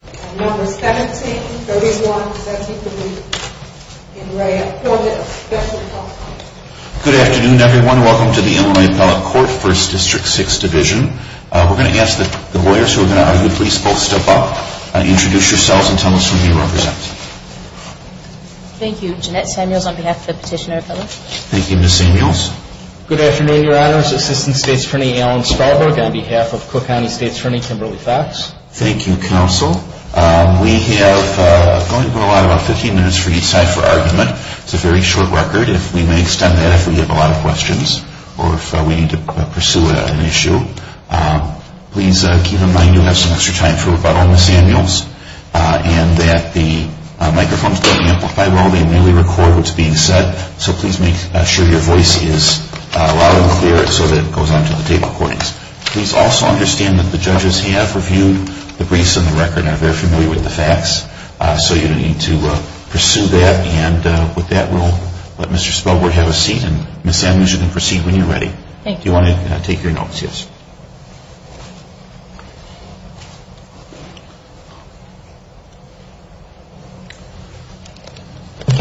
Good afternoon everyone. Welcome to the Illinois Appellate Court, 1st District, 6th Division. We're going to ask that the lawyers who are going to argue please both step up, introduce yourselves, and tell us who you represent. Thank you. Jeanette Samuels on behalf of the Petitioner Appellate. Thank you, Ms. Samuels. Good afternoon, Your Honors. Assistant State's Attorney Alan Sparberg on behalf of Cook County State's Attorney Kimberly Fox. Thank you, Counsel. We have going to go on about 15 minutes for each side for argument. It's a very short record. If we may extend that if we have a lot of questions or if we need to pursue an issue. Please keep in mind you'll have some extra time for rebuttal, Ms. Samuels. And that the microphones don't amplify well. They merely record what's being said. So please make sure your voice is loud and clear so that it goes on to the tape recordings. Please also understand that the judges have reviewed the briefs and the record and are very familiar with the facts. So you don't need to pursue that. And with that, we'll let Mr. Spelberg have a seat. And Ms. Samuels, you can proceed when you're ready. Thank you. Do you want to take your notes? Yes.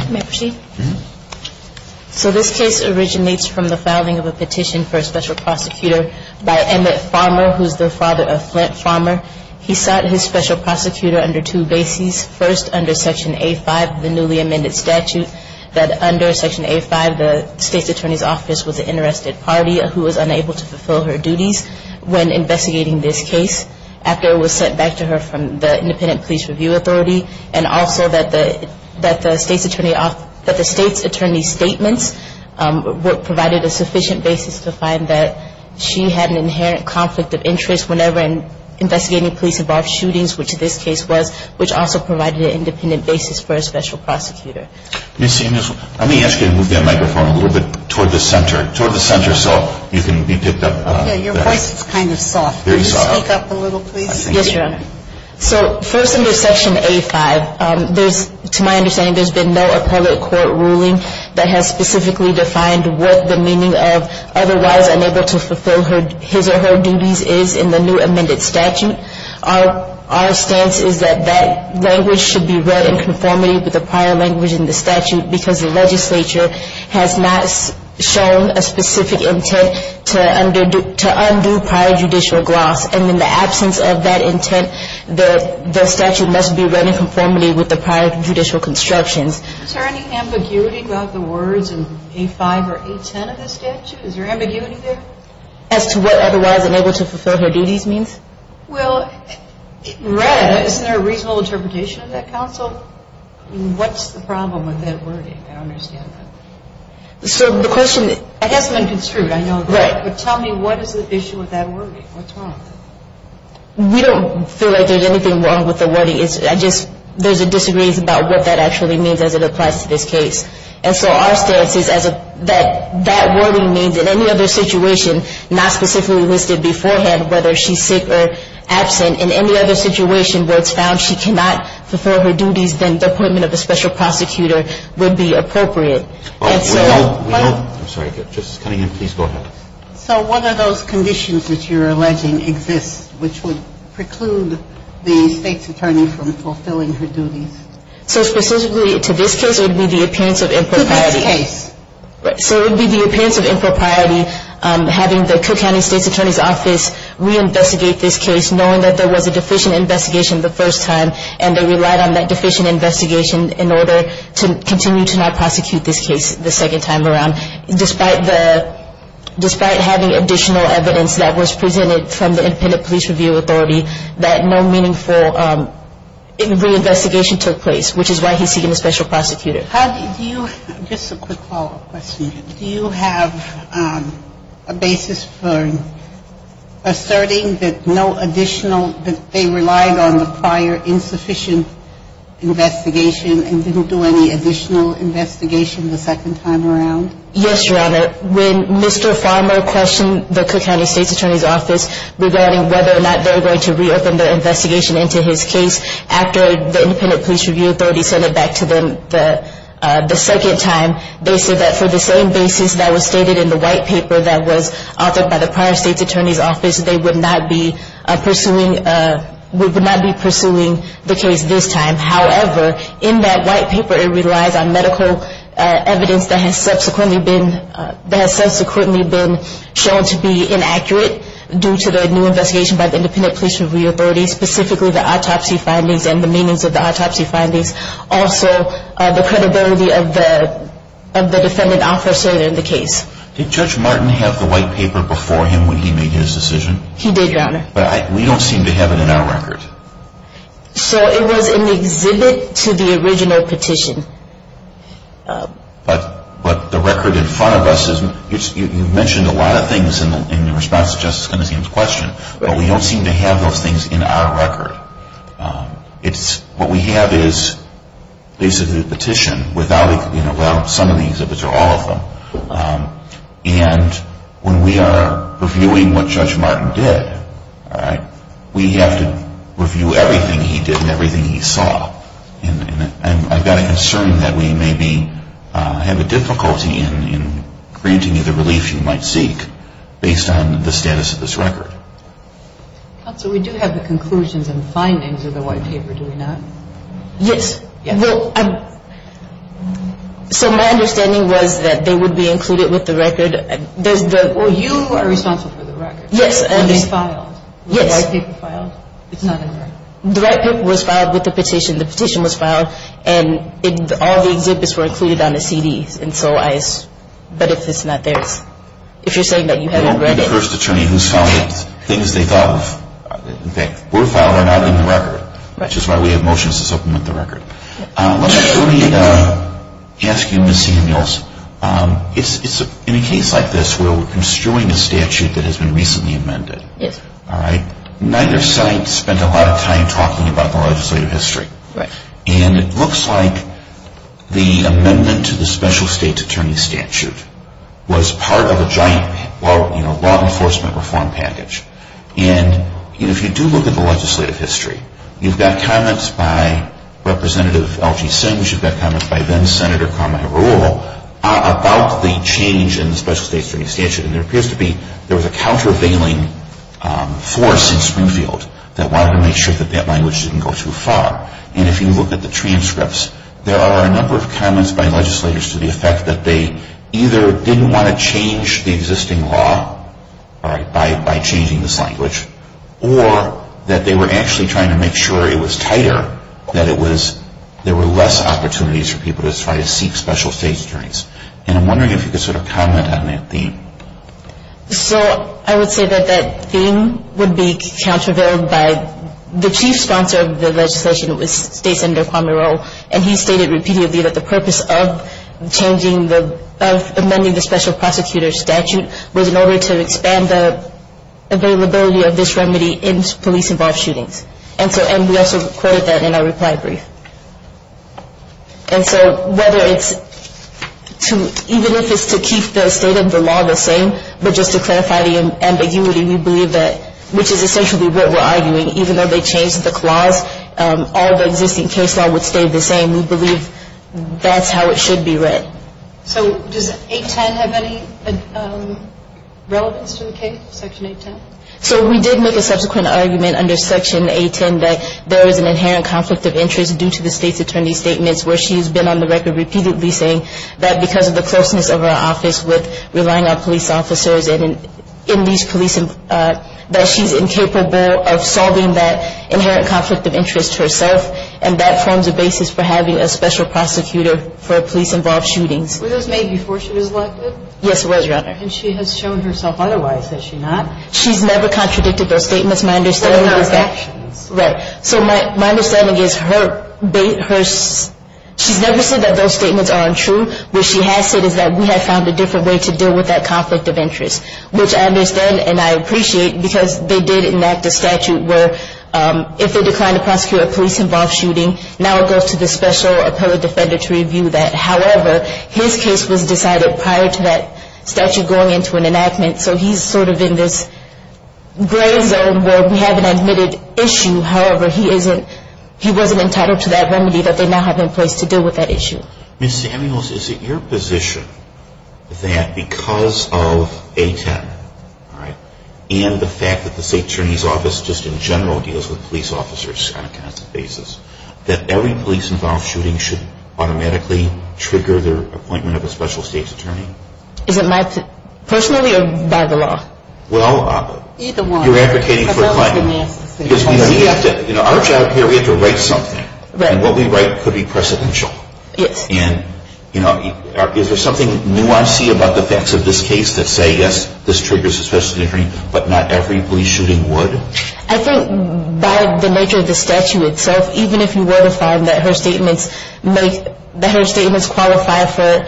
May I proceed? Mm-hmm. So this case originates from the filing of a petition for a special prosecutor by Emmett Farmer, who's the father of Flint Farmer. He sought his special prosecutor under two bases. First, under Section A-5, the newly amended statute, that under Section A-5, the State's Attorney's Office was an interested party who was unable to fulfill her duties when investigating this case after it was sent back to her from the Independent Police Review Authority. And also that the State's Attorney's statements provided a sufficient basis to find that she had an inherent conflict of interest whenever investigating police-involved shootings, which this case was, which also provided an independent basis for a special prosecutor. Ms. Samuels, let me ask you to move your microphone a little bit toward the center, toward the center so you can be picked up. Okay. Your voice is kind of soft. Very soft. Can you speak up a little, please? Yes, Your Honor. So first under Section A-5, there's, to my understanding, there's been no appellate court ruling that has specifically defined what the meaning of otherwise unable to fulfill her, his or her duties is in the new amended statute. Our stance is that that language should be read in conformity with the prior language in the statute because the legislature has not shown a specific intent to undo prior judicial gloss. And in the absence of that intent, the statute must be read in conformity with the prior judicial constructions. Is there any ambiguity about the words in A-5 or A-10 of the statute? Is there ambiguity there? As to what otherwise unable to fulfill her duties means? Well, it read. Isn't there a reasonable interpretation of that counsel? I mean, what's the problem with that wording? I don't understand that. So the question is... It hasn't been construed. I know that. Right. But tell me what is the issue with that wording? What's wrong? We don't feel like there's anything wrong with the wording. It's just there's a disagreement about what that actually means as it applies to this case. And so our stance is that that wording means in any other situation, not specifically listed beforehand, whether she's sick or absent, in any other situation where it's found she cannot fulfill her duties, then the appointment of a special prosecutor would be appropriate. I'm sorry. Just coming in. Please go ahead. So what are those conditions that you're alleging exist, which would preclude the state's attorney from fulfilling her duties? So specifically to this case, it would be the appearance of impropriety. To this case. So it would be the appearance of impropriety having the Cook County State's Attorney's Office reinvestigate this case knowing that there was a deficient investigation the first time and they relied on that deficient investigation in order to continue to not prosecute this case the second time around, despite having additional evidence that was presented from the Independent Police Review Authority that no meaningful reinvestigation took place, which is why he's seeking a special prosecutor. Just a quick follow-up question. Do you have a basis for asserting that no additional, that they relied on the prior insufficient investigation and didn't do any additional investigation the second time around? Yes, Your Honor. When Mr. Farmer questioned the Cook County State's Attorney's Office regarding whether or not they were going to reopen the investigation into his case after the Independent Police Review Authority sent it back to them the second time, they said that for the same basis that was stated in the white paper that was authored by the prior State's Attorney's Office, they would not be pursuing the case this time. However, in that white paper, it relies on medical evidence that has subsequently been shown to be inaccurate due to the new investigation by the Independent Police Review Authority, specifically the autopsy findings and the meanings of the autopsy findings. Also, the credibility of the defendant officer in the case. Did Judge Martin have the white paper before him when he made his decision? He did, Your Honor. But we don't seem to have it in our record. So it was in the exhibit to the original petition. But the record in front of us, you mentioned a lot of things in response to Justice Conniseum's question, but we don't seem to have those things in our record. What we have is basically a petition without some of the exhibits or all of them. And when we are reviewing what Judge Martin did, we have to review everything he did and everything he saw. And I've got a concern that we maybe have a difficulty in granting you the relief you might seek based on the status of this record. Counsel, we do have the conclusions and findings of the white paper, do we not? Yes. So my understanding was that they would be included with the record. Well, you are responsible for the record. Yes. It was filed. Yes. Was the white paper filed? It's not in the record. The record was filed with the petition. The petition was filed. And all the exhibits were included on the CDs. But if it's not there, if you're saying that you haven't read it. The first attorney who filed it, things they thought were filed are not in the record, which is why we have motions to supplement the record. Let me ask you, Ms. Samuels, in a case like this where we're construing a statute that has been recently amended, neither side spent a lot of time talking about the legislative history. Right. And it looks like the amendment to the special state's attorney statute was part of a giant law enforcement reform package. And if you do look at the legislative history, you've got comments by Representative L.G. Sims, you've got comments by then Senator Carmichael Reuel about the change in the special state's attorney statute. And there appears to be, there was a countervailing force in Springfield that wanted to make sure that that language didn't go too far. And if you look at the transcripts, there are a number of comments by legislators to the effect that they either didn't want to change the existing law by changing this language, or that they were actually trying to make sure it was tighter, that there were less opportunities for people to try to seek special state's attorneys. And I'm wondering if you could sort of comment on that theme. So I would say that that theme would be countervailed by the chief sponsor of the legislation, it was State Senator Carmichael Reuel, and he stated repeatedly that the purpose of changing the, of amending the special prosecutor's statute was in order to expand the availability of this remedy in police-involved shootings. And so, and we also quoted that in our reply brief. And so whether it's to, even if it's to keep the state of the law the same, but just to clarify the ambiguity, we believe that, which is essentially what we're arguing, even though they changed the clause, all the existing case law would stay the same. We believe that's how it should be read. So does 810 have any relevance to the case, Section 810? So we did make a subsequent argument under Section 810 that there is an inherent conflict of interest due to the state's attorney's statements, where she has been on the record repeatedly saying that because of the closeness of her office with relying on police officers and in these police, that she's incapable of solving that inherent conflict of interest herself, and that forms a basis for having a special prosecutor for police-involved shootings. Were those made before she was elected? Yes, it was, Your Honor. And she has shown herself otherwise, has she not? She's never contradicted those statements, my understanding is that. Right, so my understanding is she's never said that those statements are untrue. What she has said is that we have found a different way to deal with that conflict of interest, which I understand and I appreciate because they did enact a statute where if they declined to prosecute a police-involved shooting, now it goes to the special appellate defender to review that. However, his case was decided prior to that statute going into an enactment, so he's sort of in this gray zone where we have an admitted issue. However, he wasn't entitled to that remedy that they now have in place to deal with that issue. Ms. Samuels, is it your position that because of A10, all right, and the fact that the State Attorney's Office just in general deals with police officers on a constant basis, that every police-involved shooting should automatically trigger their appointment of a special state's attorney? Is it my personal view or by the law? Well, you're advocating for a claim. Our job here, we have to write something, and what we write could be precedential. Yes. And is there something new I see about the facts of this case that say, yes, this triggers a special state's attorney, but not every police shooting would? I think by the nature of the statute itself, even if you were to find that her statements make, that her statements qualify for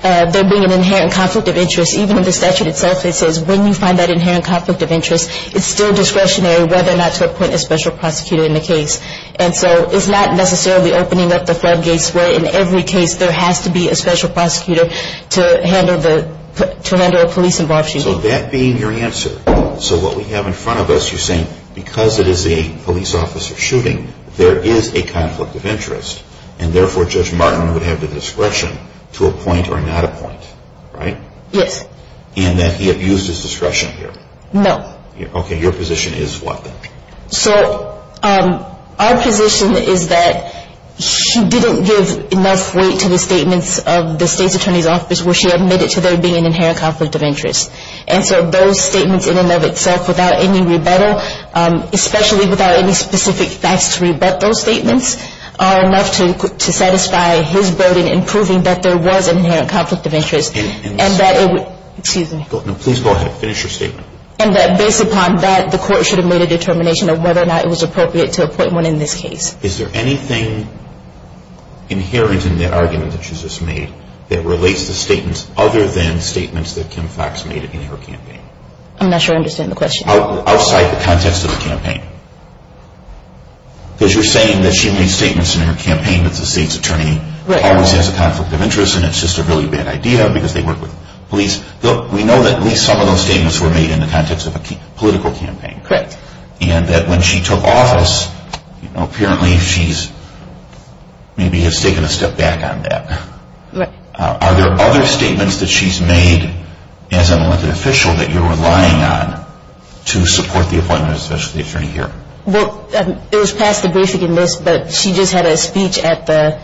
there being an inherent conflict of interest, even if the statute itself says when you find that inherent conflict of interest, it's still discretionary whether or not to appoint a special prosecutor in the case. And so it's not necessarily opening up the floodgates where in every case there has to be a special prosecutor to handle the, to handle a police-involved shooting. So that being your answer, so what we have in front of us, you're saying because it is a police officer shooting, there is a conflict of interest, and therefore Judge Martin would have the discretion to appoint or not appoint, right? Yes. And that he abused his discretion here? No. Okay, your position is what then? So our position is that she didn't give enough weight to the statements of the state's attorney's office where she admitted to there being an inherent conflict of interest. And so those statements in and of itself without any rebuttal, especially without any specific facts to rebut those statements, are enough to satisfy his burden in proving that there was an inherent conflict of interest. And that it would, excuse me. No, please go ahead. Finish your statement. And that based upon that, the court should have made a determination of whether or not it was appropriate to appoint one in this case. Is there anything inherent in that argument that you just made that relates to statements other than statements that Kim Fox made in her campaign? I'm not sure I understand the question. Outside the context of the campaign. Because you're saying that she made statements in her campaign that the state's attorney always has a conflict of interest and it's just a really bad idea because they work with police. We know that at least some of those statements were made in the context of a political campaign. Correct. And that when she took office, apparently she's maybe has taken a step back on that. Are there other statements that she's made as an elected official that you're relying on to support the appointment of an attorney here? Well, it was past the briefing in this, but she just had a speech at the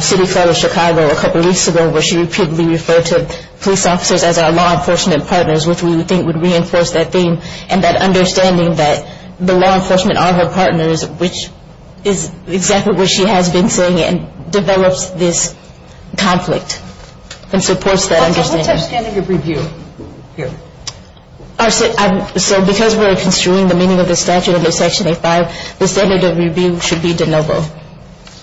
city fair in Chicago a couple weeks ago where she repeatedly referred to police officers as our law enforcement partners, which we think would reinforce that theme. And that understanding that the law enforcement are her partners, which is exactly what she has been saying and develops this conflict and supports that understanding. What's her standard of review here? So because we're construing the meaning of the statute under Section 8-5, the standard of review should be de novo.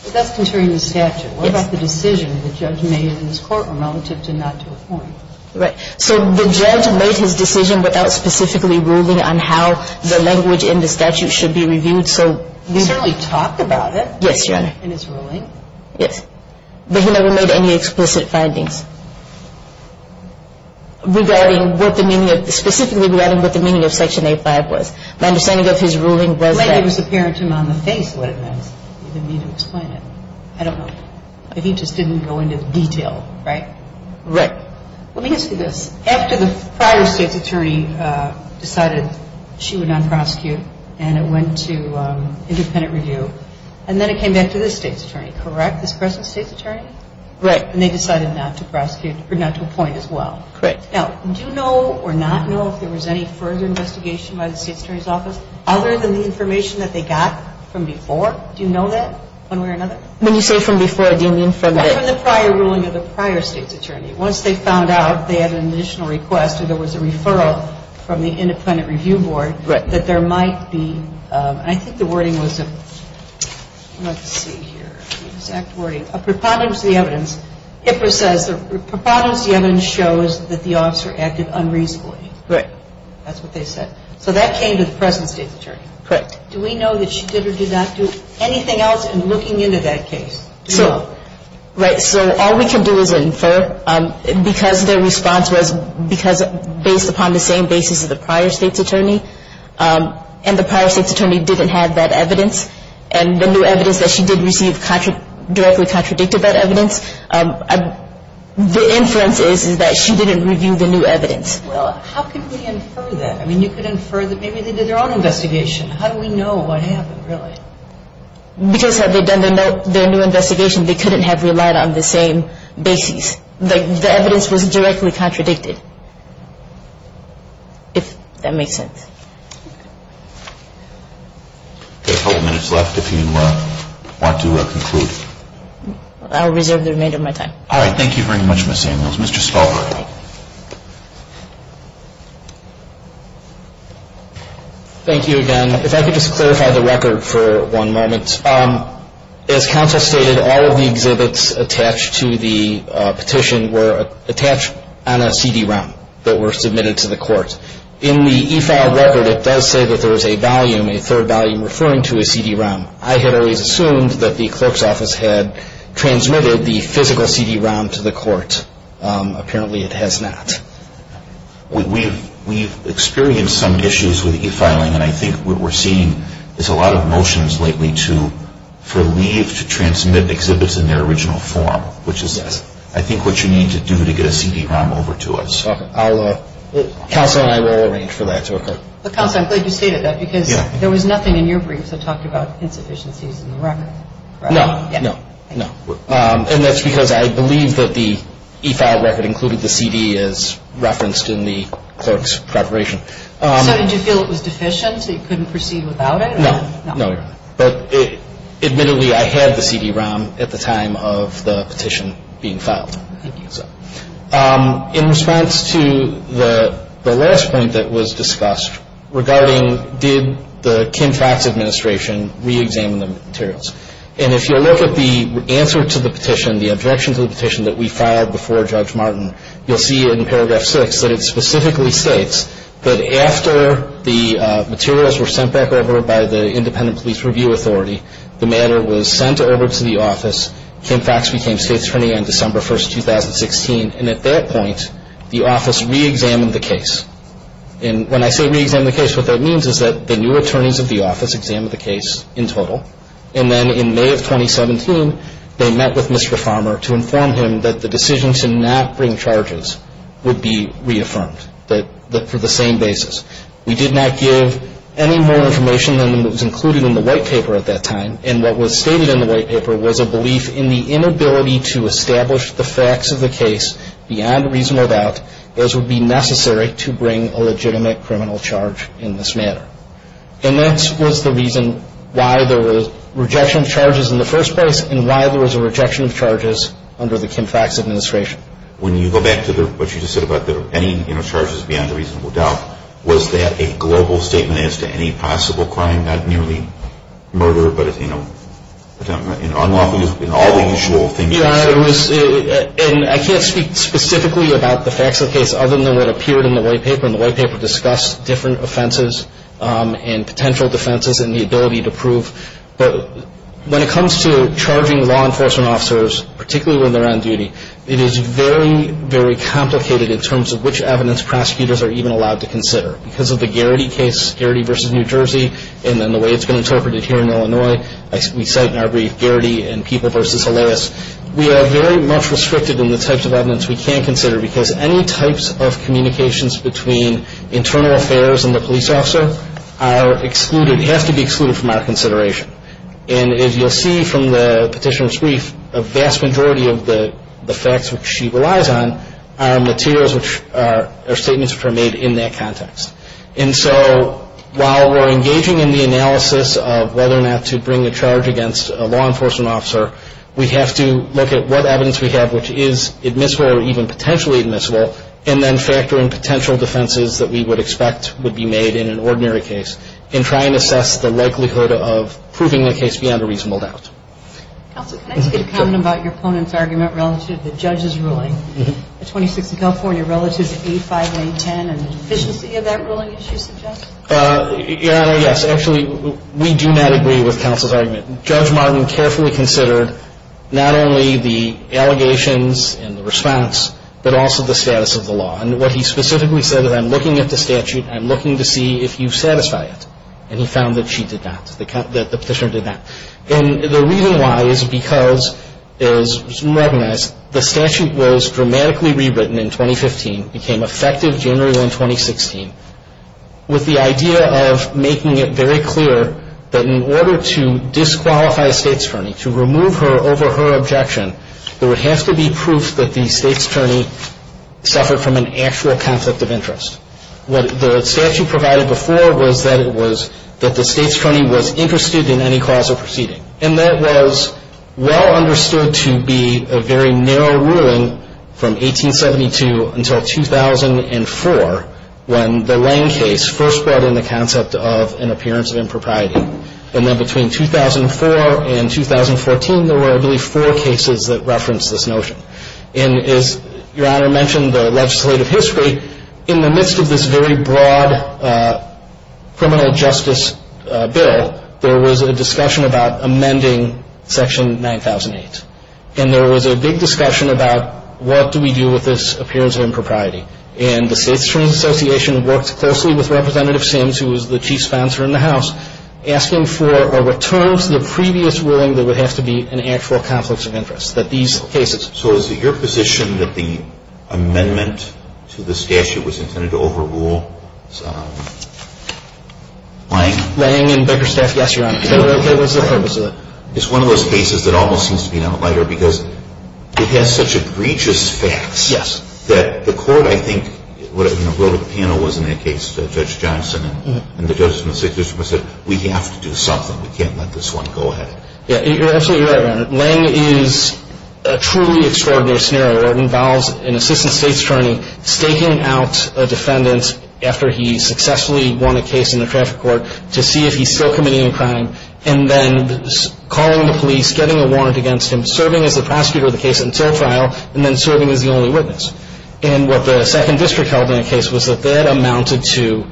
But that's construing the statute. Yes. What about the decision the judge made in this court relative to not to appoint? Right. So the judge made his decision without specifically ruling on how the language in the statute should be reviewed. He certainly talked about it. Yes, Your Honor. In his ruling. Yes. But he never made any explicit findings regarding what the meaning of, specifically regarding what the meaning of Section 8-5 was. My understanding of his ruling was that. It was apparent to him on the face what it meant. He didn't need to explain it. I don't know. He just didn't go into detail, right? Right. Let me ask you this. After the prior state's attorney decided she would not prosecute and it went to independent review, and then it came back to this state's attorney, correct? This present state's attorney? Right. And they decided not to prosecute or not to appoint as well. Correct. Now, do you know or not know if there was any further investigation by the state's attorney's office other than the information that they got from before? Do you know that one way or another? When you say from before, do you mean from the? From the prior ruling of the prior state's attorney. Once they found out they had an additional request or there was a referral from the independent review board, that there might be, and I think the wording was, let's see here, the exact wording, a preponderance of the evidence. HIPAA says the preponderance of the evidence shows that the officer acted unreasonably. Right. That's what they said. So that came to the present state's attorney. Correct. Do we know that she did or did not do anything else in looking into that case? Right. So all we can do is infer because their response was based upon the same basis of the prior state's attorney and the prior state's attorney didn't have that evidence and the new evidence that she did receive directly contradicted that evidence. The inference is that she didn't review the new evidence. Well, how can we infer that? I mean, you could infer that maybe they did their own investigation. How do we know what happened really? Because had they done their new investigation, they couldn't have relied on the same basis. The evidence was directly contradicted, if that makes sense. We've got a couple of minutes left if you want to conclude. I will reserve the remainder of my time. All right. Thank you very much, Ms. Samuels. Mr. Stahlberg. Thank you again. If I could just clarify the record for one moment. As counsel stated, all of the exhibits attached to the petition were attached on a CD-ROM that were submitted to the court. In the e-file record, it does say that there is a volume, a third volume, referring to a CD-ROM. I had always assumed that the clerk's office had transmitted the physical CD-ROM to the court. Apparently, it has not. We've experienced some issues with e-filing, and I think what we're seeing is a lot of motions lately for leave to transmit exhibits in their original form, which is I think what you need to do to get a CD-ROM over to us. Counsel and I will arrange for that to occur. But, counsel, I'm glad you stated that because there was nothing in your briefs that talked about insufficiencies in the record. No, no, no. And that's because I believe that the e-file record included the CD as referenced in the clerk's preparation. So did you feel it was deficient, so you couldn't proceed without it? No, no. But admittedly, I had the CD-ROM at the time of the petition being filed. In response to the last point that was discussed regarding did the Kim-Fax administration reexamine the materials, and if you'll look at the answer to the petition, the objection to the petition that we filed before Judge Martin, you'll see in paragraph 6 that it specifically states that after the materials were sent back over by the Independent Police Review Authority, the matter was sent over to the office. Kim-Fax became state's attorney on December 1, 2016, and at that point, the office reexamined the case. And when I say reexamined the case, what that means is that the new attorneys of the office examined the case in total, and then in May of 2017, they met with Mr. Farmer to inform him that the decision to not bring charges would be reaffirmed for the same basis. We did not give any more information than was included in the white paper at that time, and what was stated in the white paper was a belief in the inability to establish the facts of the case beyond reasonable doubt, as would be necessary to bring a legitimate criminal charge in this matter. And that was the reason why there was rejection of charges in the first place and why there was a rejection of charges under the Kim-Fax administration. When you go back to what you just said about there being no charges beyond reasonable doubt, was that a global statement as to any possible crime, not merely murder, but unlawful use in all the usual things? I can't speak specifically about the facts of the case other than what appeared in the white paper, and the white paper discussed different offenses and potential defenses and the ability to prove. But when it comes to charging law enforcement officers, particularly when they're on duty, it is very, very complicated in terms of which evidence prosecutors are even allowed to consider. Because of the Garrity case, Garrity v. New Jersey, and then the way it's been interpreted here in Illinois, as we cite in our brief, Garrity and People v. Hilares, we are very much restricted in the types of evidence we can consider because any types of communications between internal affairs and the police officer are excluded, have to be excluded from our consideration. And as you'll see from the petitioner's brief, a vast majority of the facts which she relies on are materials which are, are statements which are made in that context. And so while we're engaging in the analysis of whether or not to bring a charge against a law enforcement officer, we have to look at what evidence we have which is admissible or even potentially admissible, and then factor in potential defenses that we would expect would be made in an ordinary case and try and assess the likelihood of proving the case beyond a reasonable doubt. Counsel, can I just get a comment about your opponent's argument relative to the judge's ruling? Mm-hmm. The 26 in California relative to A5 and A10 and the deficiency of that ruling, as you suggest? Your Honor, yes. Actually, we do not agree with counsel's argument. Judge Martin carefully considered not only the allegations and the response but also the status of the law. And what he specifically said is I'm looking at the statute and I'm looking to see if you satisfy it. And he found that she did not, that the petitioner did not. And the reason why is because, as you recognize, the statute was dramatically rewritten in 2015, became effective January 1, 2016, with the idea of making it very clear that in order to disqualify a state's attorney, to remove her over her objection, there would have to be proof that the state's attorney suffered from an actual conflict of interest. What the statute provided before was that it was that the state's attorney was interested in any cause of proceeding. And that was well understood to be a very narrow ruling from 1872 until 2004 when the Lane case first brought in the concept of an appearance of impropriety. And then between 2004 and 2014, there were, I believe, four cases that referenced this notion. And as Your Honor mentioned, the legislative history, in the midst of this very broad criminal justice bill, there was a discussion about amending Section 9008. And there was a big discussion about what do we do with this appearance of impropriety. And the State's Attorney's Association worked closely with Representative Sims, who was the chief sponsor in the House, asking for a return to the previous ruling that would have to be an actual conflict of interest, that these cases. So is it your position that the amendment to the statute was intended to overrule Lang? Lang and Beckerstaff, yes, Your Honor. That was the purpose of it. It's one of those cases that almost seems to be an outlier because it has such egregious facts that the court, I think, in the world of the panel, was in that case, Judge Johnson, and the judges in the State District Court said, we have to do something. We can't let this one go ahead. You're absolutely right, Your Honor. Lang is a truly extraordinary scenario. It involves an Assistant State's Attorney staking out a defendant after he successfully won a case in the traffic court to see if he's still committing a crime and then calling the police, getting a warrant against him, serving as the prosecutor of the case until trial, and then serving as the only witness. And what the Second District held in the case was that that amounted to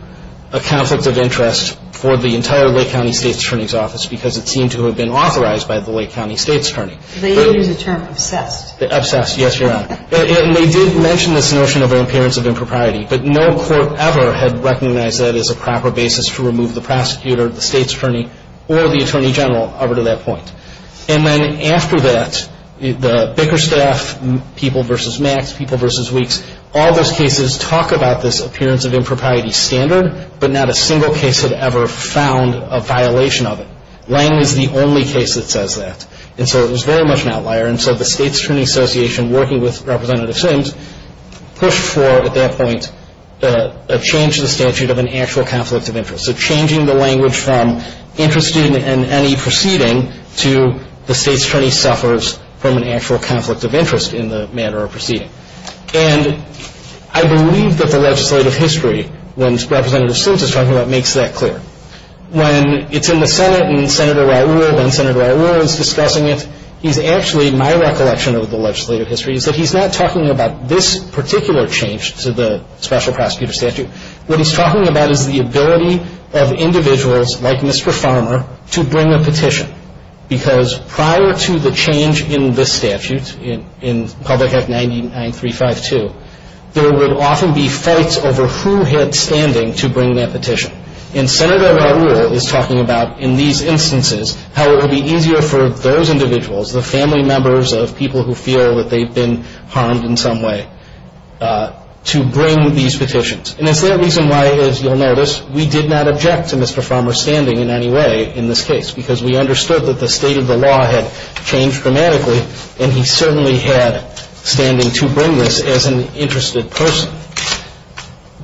a conflict of interest for the entire Lake County State's Attorney's Office because it seemed to have been authorized by the Lake County State's Attorney. They use the term obsessed. Obsessed, yes, Your Honor. And they did mention this notion of an appearance of impropriety, but no court ever had recognized that as a proper basis to remove the prosecutor, the State's Attorney, or the Attorney General over to that point. And then after that, the Bickerstaff people versus Max, people versus Weeks, all those cases talk about this appearance of impropriety standard, but not a single case had ever found a violation of it. Lang was the only case that says that. And so it was very much an outlier. And so the State's Attorney Association, working with Representative Sims, pushed for, at that point, a change to the statute of an actual conflict of interest. So changing the language from interested in any proceeding to the State's Attorney suffers from an actual conflict of interest in the manner of proceeding. And I believe that the legislative history, when Representative Sims is talking about it, makes that clear. When it's in the Senate and Senator Raul, then Senator Raul, is discussing it, he's actually, my recollection of the legislative history, is that he's not talking about this particular change to the special prosecutor statute. What he's talking about is the ability of individuals, like Mr. Farmer, to bring a petition. Because prior to the change in this statute, in Public Act 99352, there would often be fights over who had standing to bring that petition. And Senator Raul is talking about, in these instances, how it would be easier for those individuals, the family members of people who feel that they've been harmed in some way, to bring these petitions. And it's that reason why, as you'll notice, we did not object to Mr. Farmer's standing in any way in this case. Because we understood that the state of the law had changed dramatically, and he certainly had standing to bring this as an interested person.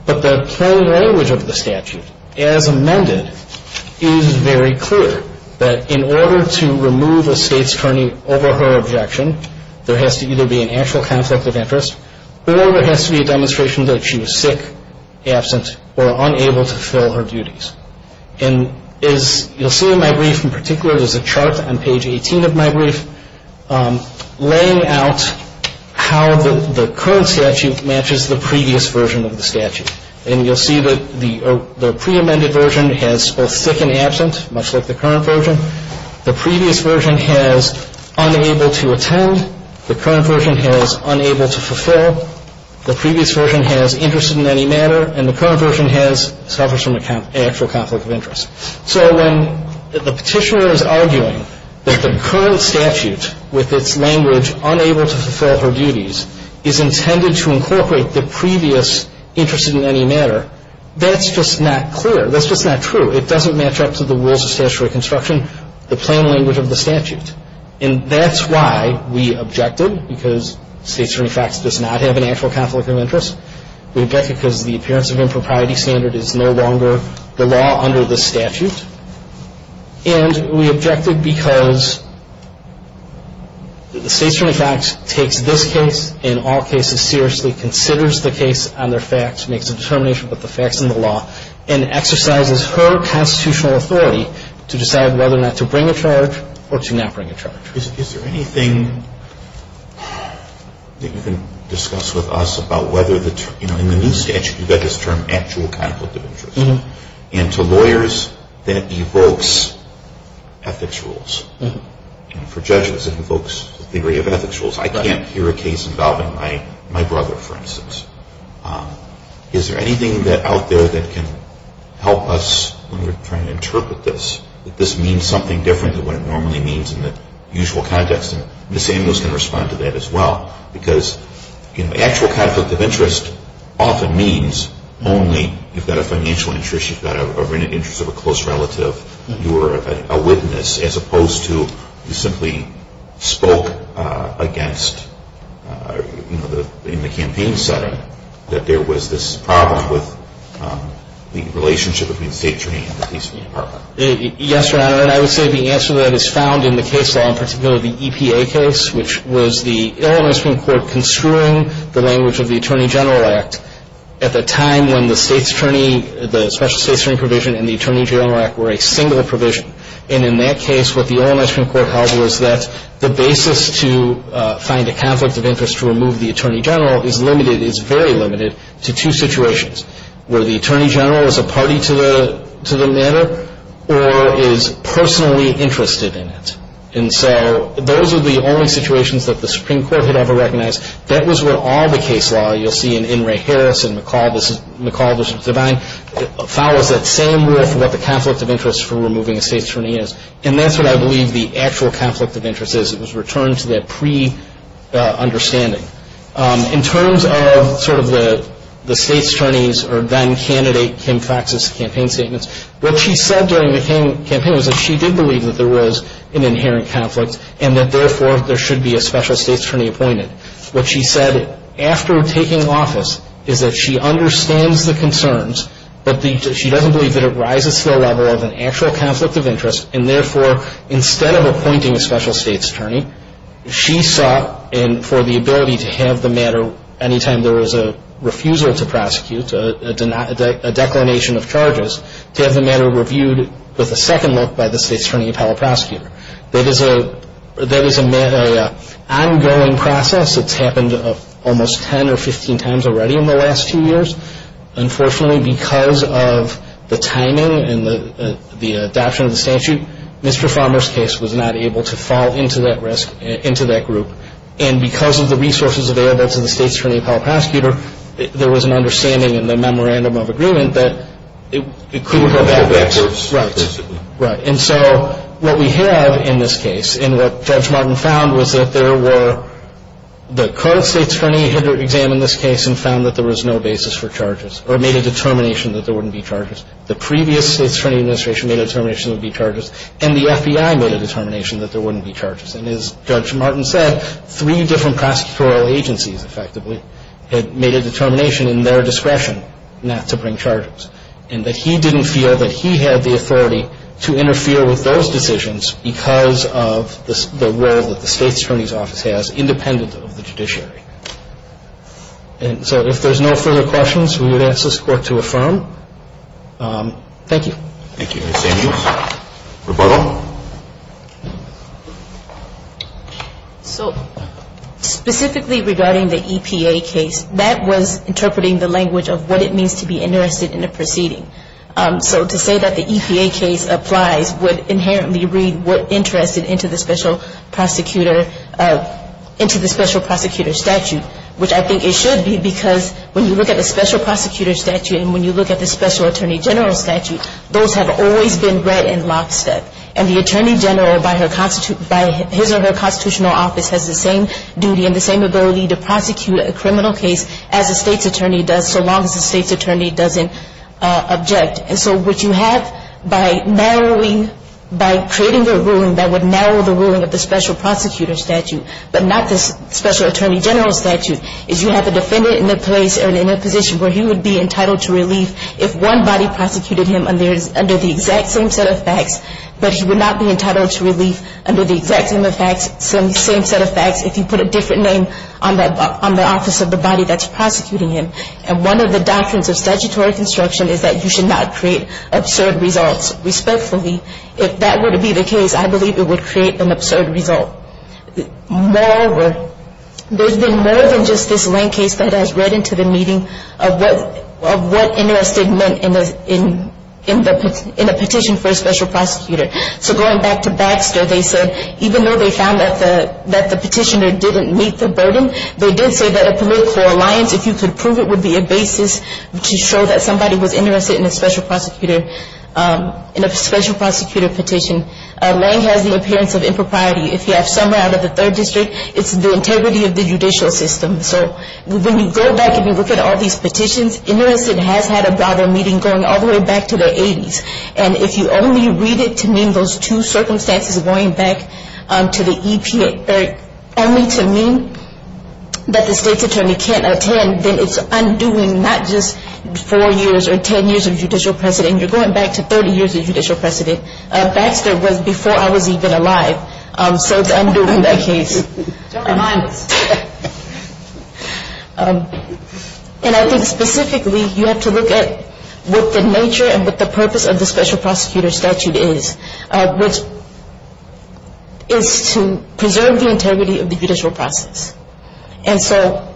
But the plain language of the statute, as amended, is very clear. That in order to remove a State's Attorney over her objection, there has to either be an actual conflict of interest, or there has to be a demonstration that she was sick, absent, or unable to fulfill her duties. And as you'll see in my brief in particular, there's a chart on page 18 of my brief, laying out how the current statute matches the previous version of the statute. And you'll see that the pre-amended version has both sick and absent, much like the current version. The previous version has unable to attend. The current version has unable to fulfill. The previous version has interested in any manner. And the current version has suffers from an actual conflict of interest. So when the Petitioner is arguing that the current statute, with its language unable to fulfill her duties, is intended to incorporate the previous interested in any manner, that's just not clear. That's just not true. It doesn't match up to the rules of statutory construction, the plain language of the statute. And that's why we objected, because State's Attorney FACTS does not have an actual conflict of interest. We objected because the appearance of impropriety standard is no longer the law under the statute. And we objected because the State's Attorney FACTS takes this case in all cases seriously, considers the case on their FACTS, makes a determination with the FACTS in the law, and exercises her constitutional authority to decide whether or not to bring a charge or to not bring a charge. Is there anything that you can discuss with us about whether the new statute, you've got this term actual conflict of interest, and to lawyers that evokes ethics rules, for judges it evokes the theory of ethics rules. I can't hear a case involving my brother, for instance. Is there anything out there that can help us when we're trying to interpret this, that this means something different than what it normally means in the usual context? And Ms. Samuels can respond to that as well. Because actual conflict of interest often means only you've got a financial interest, you've got an interest of a close relative, you're a witness, as opposed to you simply spoke against, in the campaign setting, that there was this problem with the relationship between the State's Attorney and the police department. Yes, Your Honor. And I would say the answer to that is found in the case law, in particular the EPA case, which was the Illinois Supreme Court construing the language of the Attorney General Act at the time when the State's Attorney, the Special State's Attorney provision and the Attorney General Act were a single provision. And in that case, what the Illinois Supreme Court held was that the basis to find a conflict of interest to remove the Attorney General is limited, is very limited, to two situations, where the Attorney General is a party to the matter or is personally interested in it. And so those are the only situations that the Supreme Court had ever recognized. That was what all the case law, you'll see in In re Harris and McCall v. Devine, follows that same rule for what the conflict of interest for removing a State's Attorney is. And that's what I believe the actual conflict of interest is. It was returned to that pre-understanding. In terms of sort of the State's Attorneys or then-candidate Kim Fox's campaign statements, what she said during the campaign was that she did believe that there was an inherent conflict and that, therefore, there should be a Special State's Attorney appointed. What she said after taking office is that she understands the concerns, but she doesn't believe that it rises to the level of an actual conflict of interest, and, therefore, instead of appointing a Special State's Attorney, she sought for the ability to have the matter, anytime there was a refusal to prosecute, a declination of charges, to have the matter reviewed with a second look by the State's Attorney appellate prosecutor. That is an ongoing process. It's happened almost 10 or 15 times already in the last two years. Unfortunately, because of the timing and the adoption of the statute, Mr. Farmer's case was not able to fall into that risk, into that group. And because of the resources available to the State's Attorney appellate prosecutor, there was an understanding in the memorandum of agreement that it could have had that risk. Right. And so what we have in this case and what Judge Martin found was that there were the current State's Attorney had examined this case and found that there was no basis for charges or made a determination that there wouldn't be charges. The previous State's Attorney Administration made a determination there would be charges, and the FBI made a determination that there wouldn't be charges. And as Judge Martin said, three different prosecutorial agencies, effectively, had made a determination in their discretion not to bring charges and that he didn't feel that he had the authority to interfere with those decisions because of the role that the State's Attorney's Office has independent of the judiciary. And so if there's no further questions, we would ask this Court to affirm. Thank you. Thank you, Mr. Samuels. Rebuttal. So specifically regarding the EPA case, that was interpreting the language of what it means to be interested in a proceeding. So to say that the EPA case applies would inherently read we're interested into the special prosecutor statute, which I think it should be because when you look at the special prosecutor statute and when you look at the special attorney general statute, those have always been read in lockstep. And the attorney general by his or her constitutional office has the same duty and the same ability to prosecute a criminal case as a state's attorney does so long as the state's attorney doesn't object. And so what you have by narrowing, by creating a ruling that would narrow the ruling of the special prosecutor statute but not the special attorney general statute, is you have a defendant in a place or in a position where he would be entitled to relief if one body prosecuted him under the exact same set of facts, but he would not be entitled to relief under the exact same set of facts if you put a different name on the office of the body that's prosecuting him. And one of the doctrines of statutory construction is that you should not create absurd results. Respectfully, if that were to be the case, I believe it would create an absurd result. Moreover, there's been more than just this Lane case that has read into the meeting of what interest it meant in a petition for a special prosecutor. So going back to Baxter, they said even though they found that the petitioner didn't meet the burden, they did say that a political alliance, if you could prove it, would be a basis to show that somebody was interested in a special prosecutor petition. Lane has the appearance of impropriety. If you have Summer out of the 3rd District, it's the integrity of the judicial system. So when you go back and you look at all these petitions, Interest It has had a broader meeting going all the way back to the 80s. And if you only read it to mean those two circumstances going back to the EPA, only to mean that the state's attorney can't attend, then it's undoing not just 4 years or 10 years of judicial precedent. You're going back to 30 years of judicial precedent. Baxter was before I was even alive. So it's undoing that case. Don't remind us. And I think specifically you have to look at what the nature and what the purpose of the special prosecutor statute is, which is to preserve the integrity of the judicial process. And so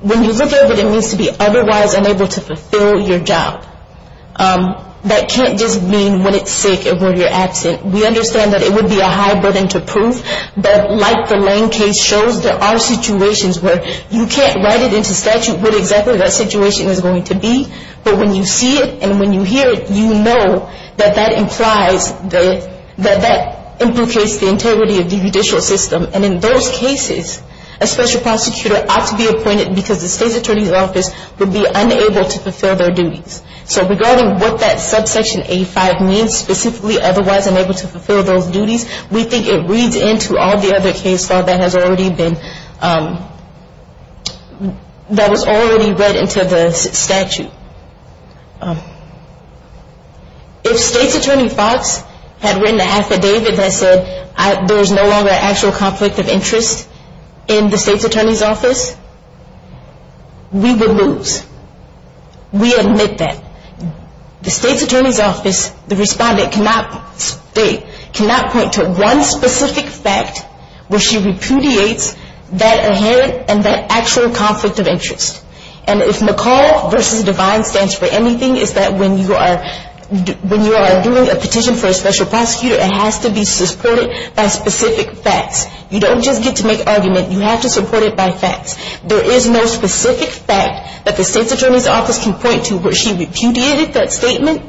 when you look at what it means to be otherwise unable to fulfill your job, that can't just mean when it's sick and when you're absent. We understand that it would be a high burden to prove, but like the Lane case shows, there are situations where you can't write it into statute what exactly that situation is going to be. But when you see it and when you hear it, you know that that implies that that implicates the integrity of the judicial system. And in those cases, a special prosecutor ought to be appointed because the state's attorney's office would be unable to fulfill their duties. So regarding what that subsection A-5 means, specifically otherwise unable to fulfill those duties, we think it reads into all the other case law that has already been, that was already read into the statute. If state's attorney Fox had written an affidavit that said, there is no longer an actual conflict of interest in the state's attorney's office, we would lose. We admit that. The state's attorney's office, the respondent cannot state, cannot point to one specific fact where she repudiates that inherent and that actual conflict of interest. And if McCall v. Divine stands for anything, it's that when you are doing a petition for a special prosecutor, it has to be supported by specific facts. You don't just get to make argument, you have to support it by facts. There is no specific fact that the state's attorney's office can point to where she repudiated that statement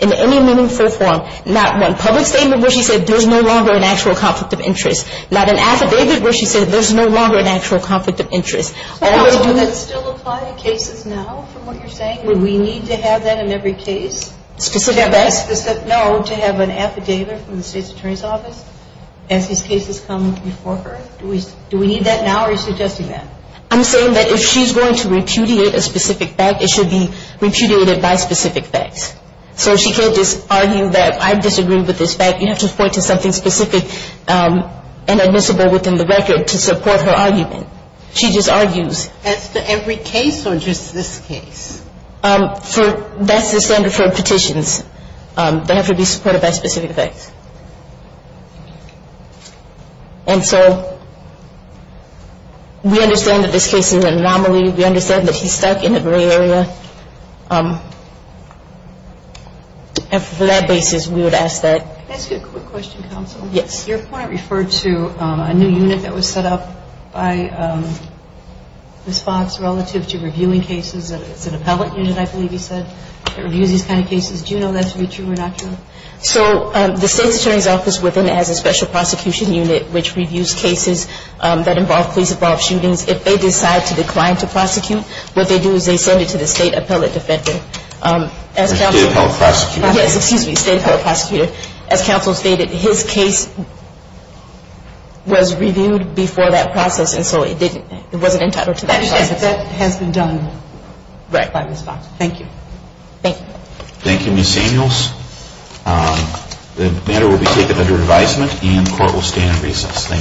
in any meaningful form. Not one public statement where she said, there's no longer an actual conflict of interest. Not an affidavit where she said, there's no longer an actual conflict of interest. Do we need to have that in every case? Specific facts? No, to have an affidavit from the state's attorney's office as these cases come before her? Do we need that now or are you suggesting that? I'm saying that if she's going to repudiate a specific fact, it should be repudiated by specific facts. So she can't just argue that I disagree with this fact. You have to point to something specific and admissible within the record to support her argument. She just argues. As to every case or just this case? That's the standard for petitions. They have to be supported by specific facts. And so we understand that this case is an anomaly. We understand that he's stuck in a gray area. And for that basis, we would ask that. Can I ask you a quick question, counsel? Yes. Your point referred to a new unit that was set up by Ms. Fox relative to reviewing cases. It's an appellate unit, I believe you said, that reviews these kind of cases. Do you know that to be true or not true? So the state's attorney's office within it has a special prosecution unit, which reviews cases that involve police-involved shootings. If they decide to decline to prosecute, what they do is they send it to the state appellate defender. State appellate prosecutor. Yes, excuse me, state appellate prosecutor. As counsel stated, his case was reviewed before that process, and so it wasn't entitled to that process. That has been done by Ms. Fox. Right. Thank you. Thank you. Thank you, Ms. Samuels. The matter will be taken under advisement and court will stand in recess. Thank you.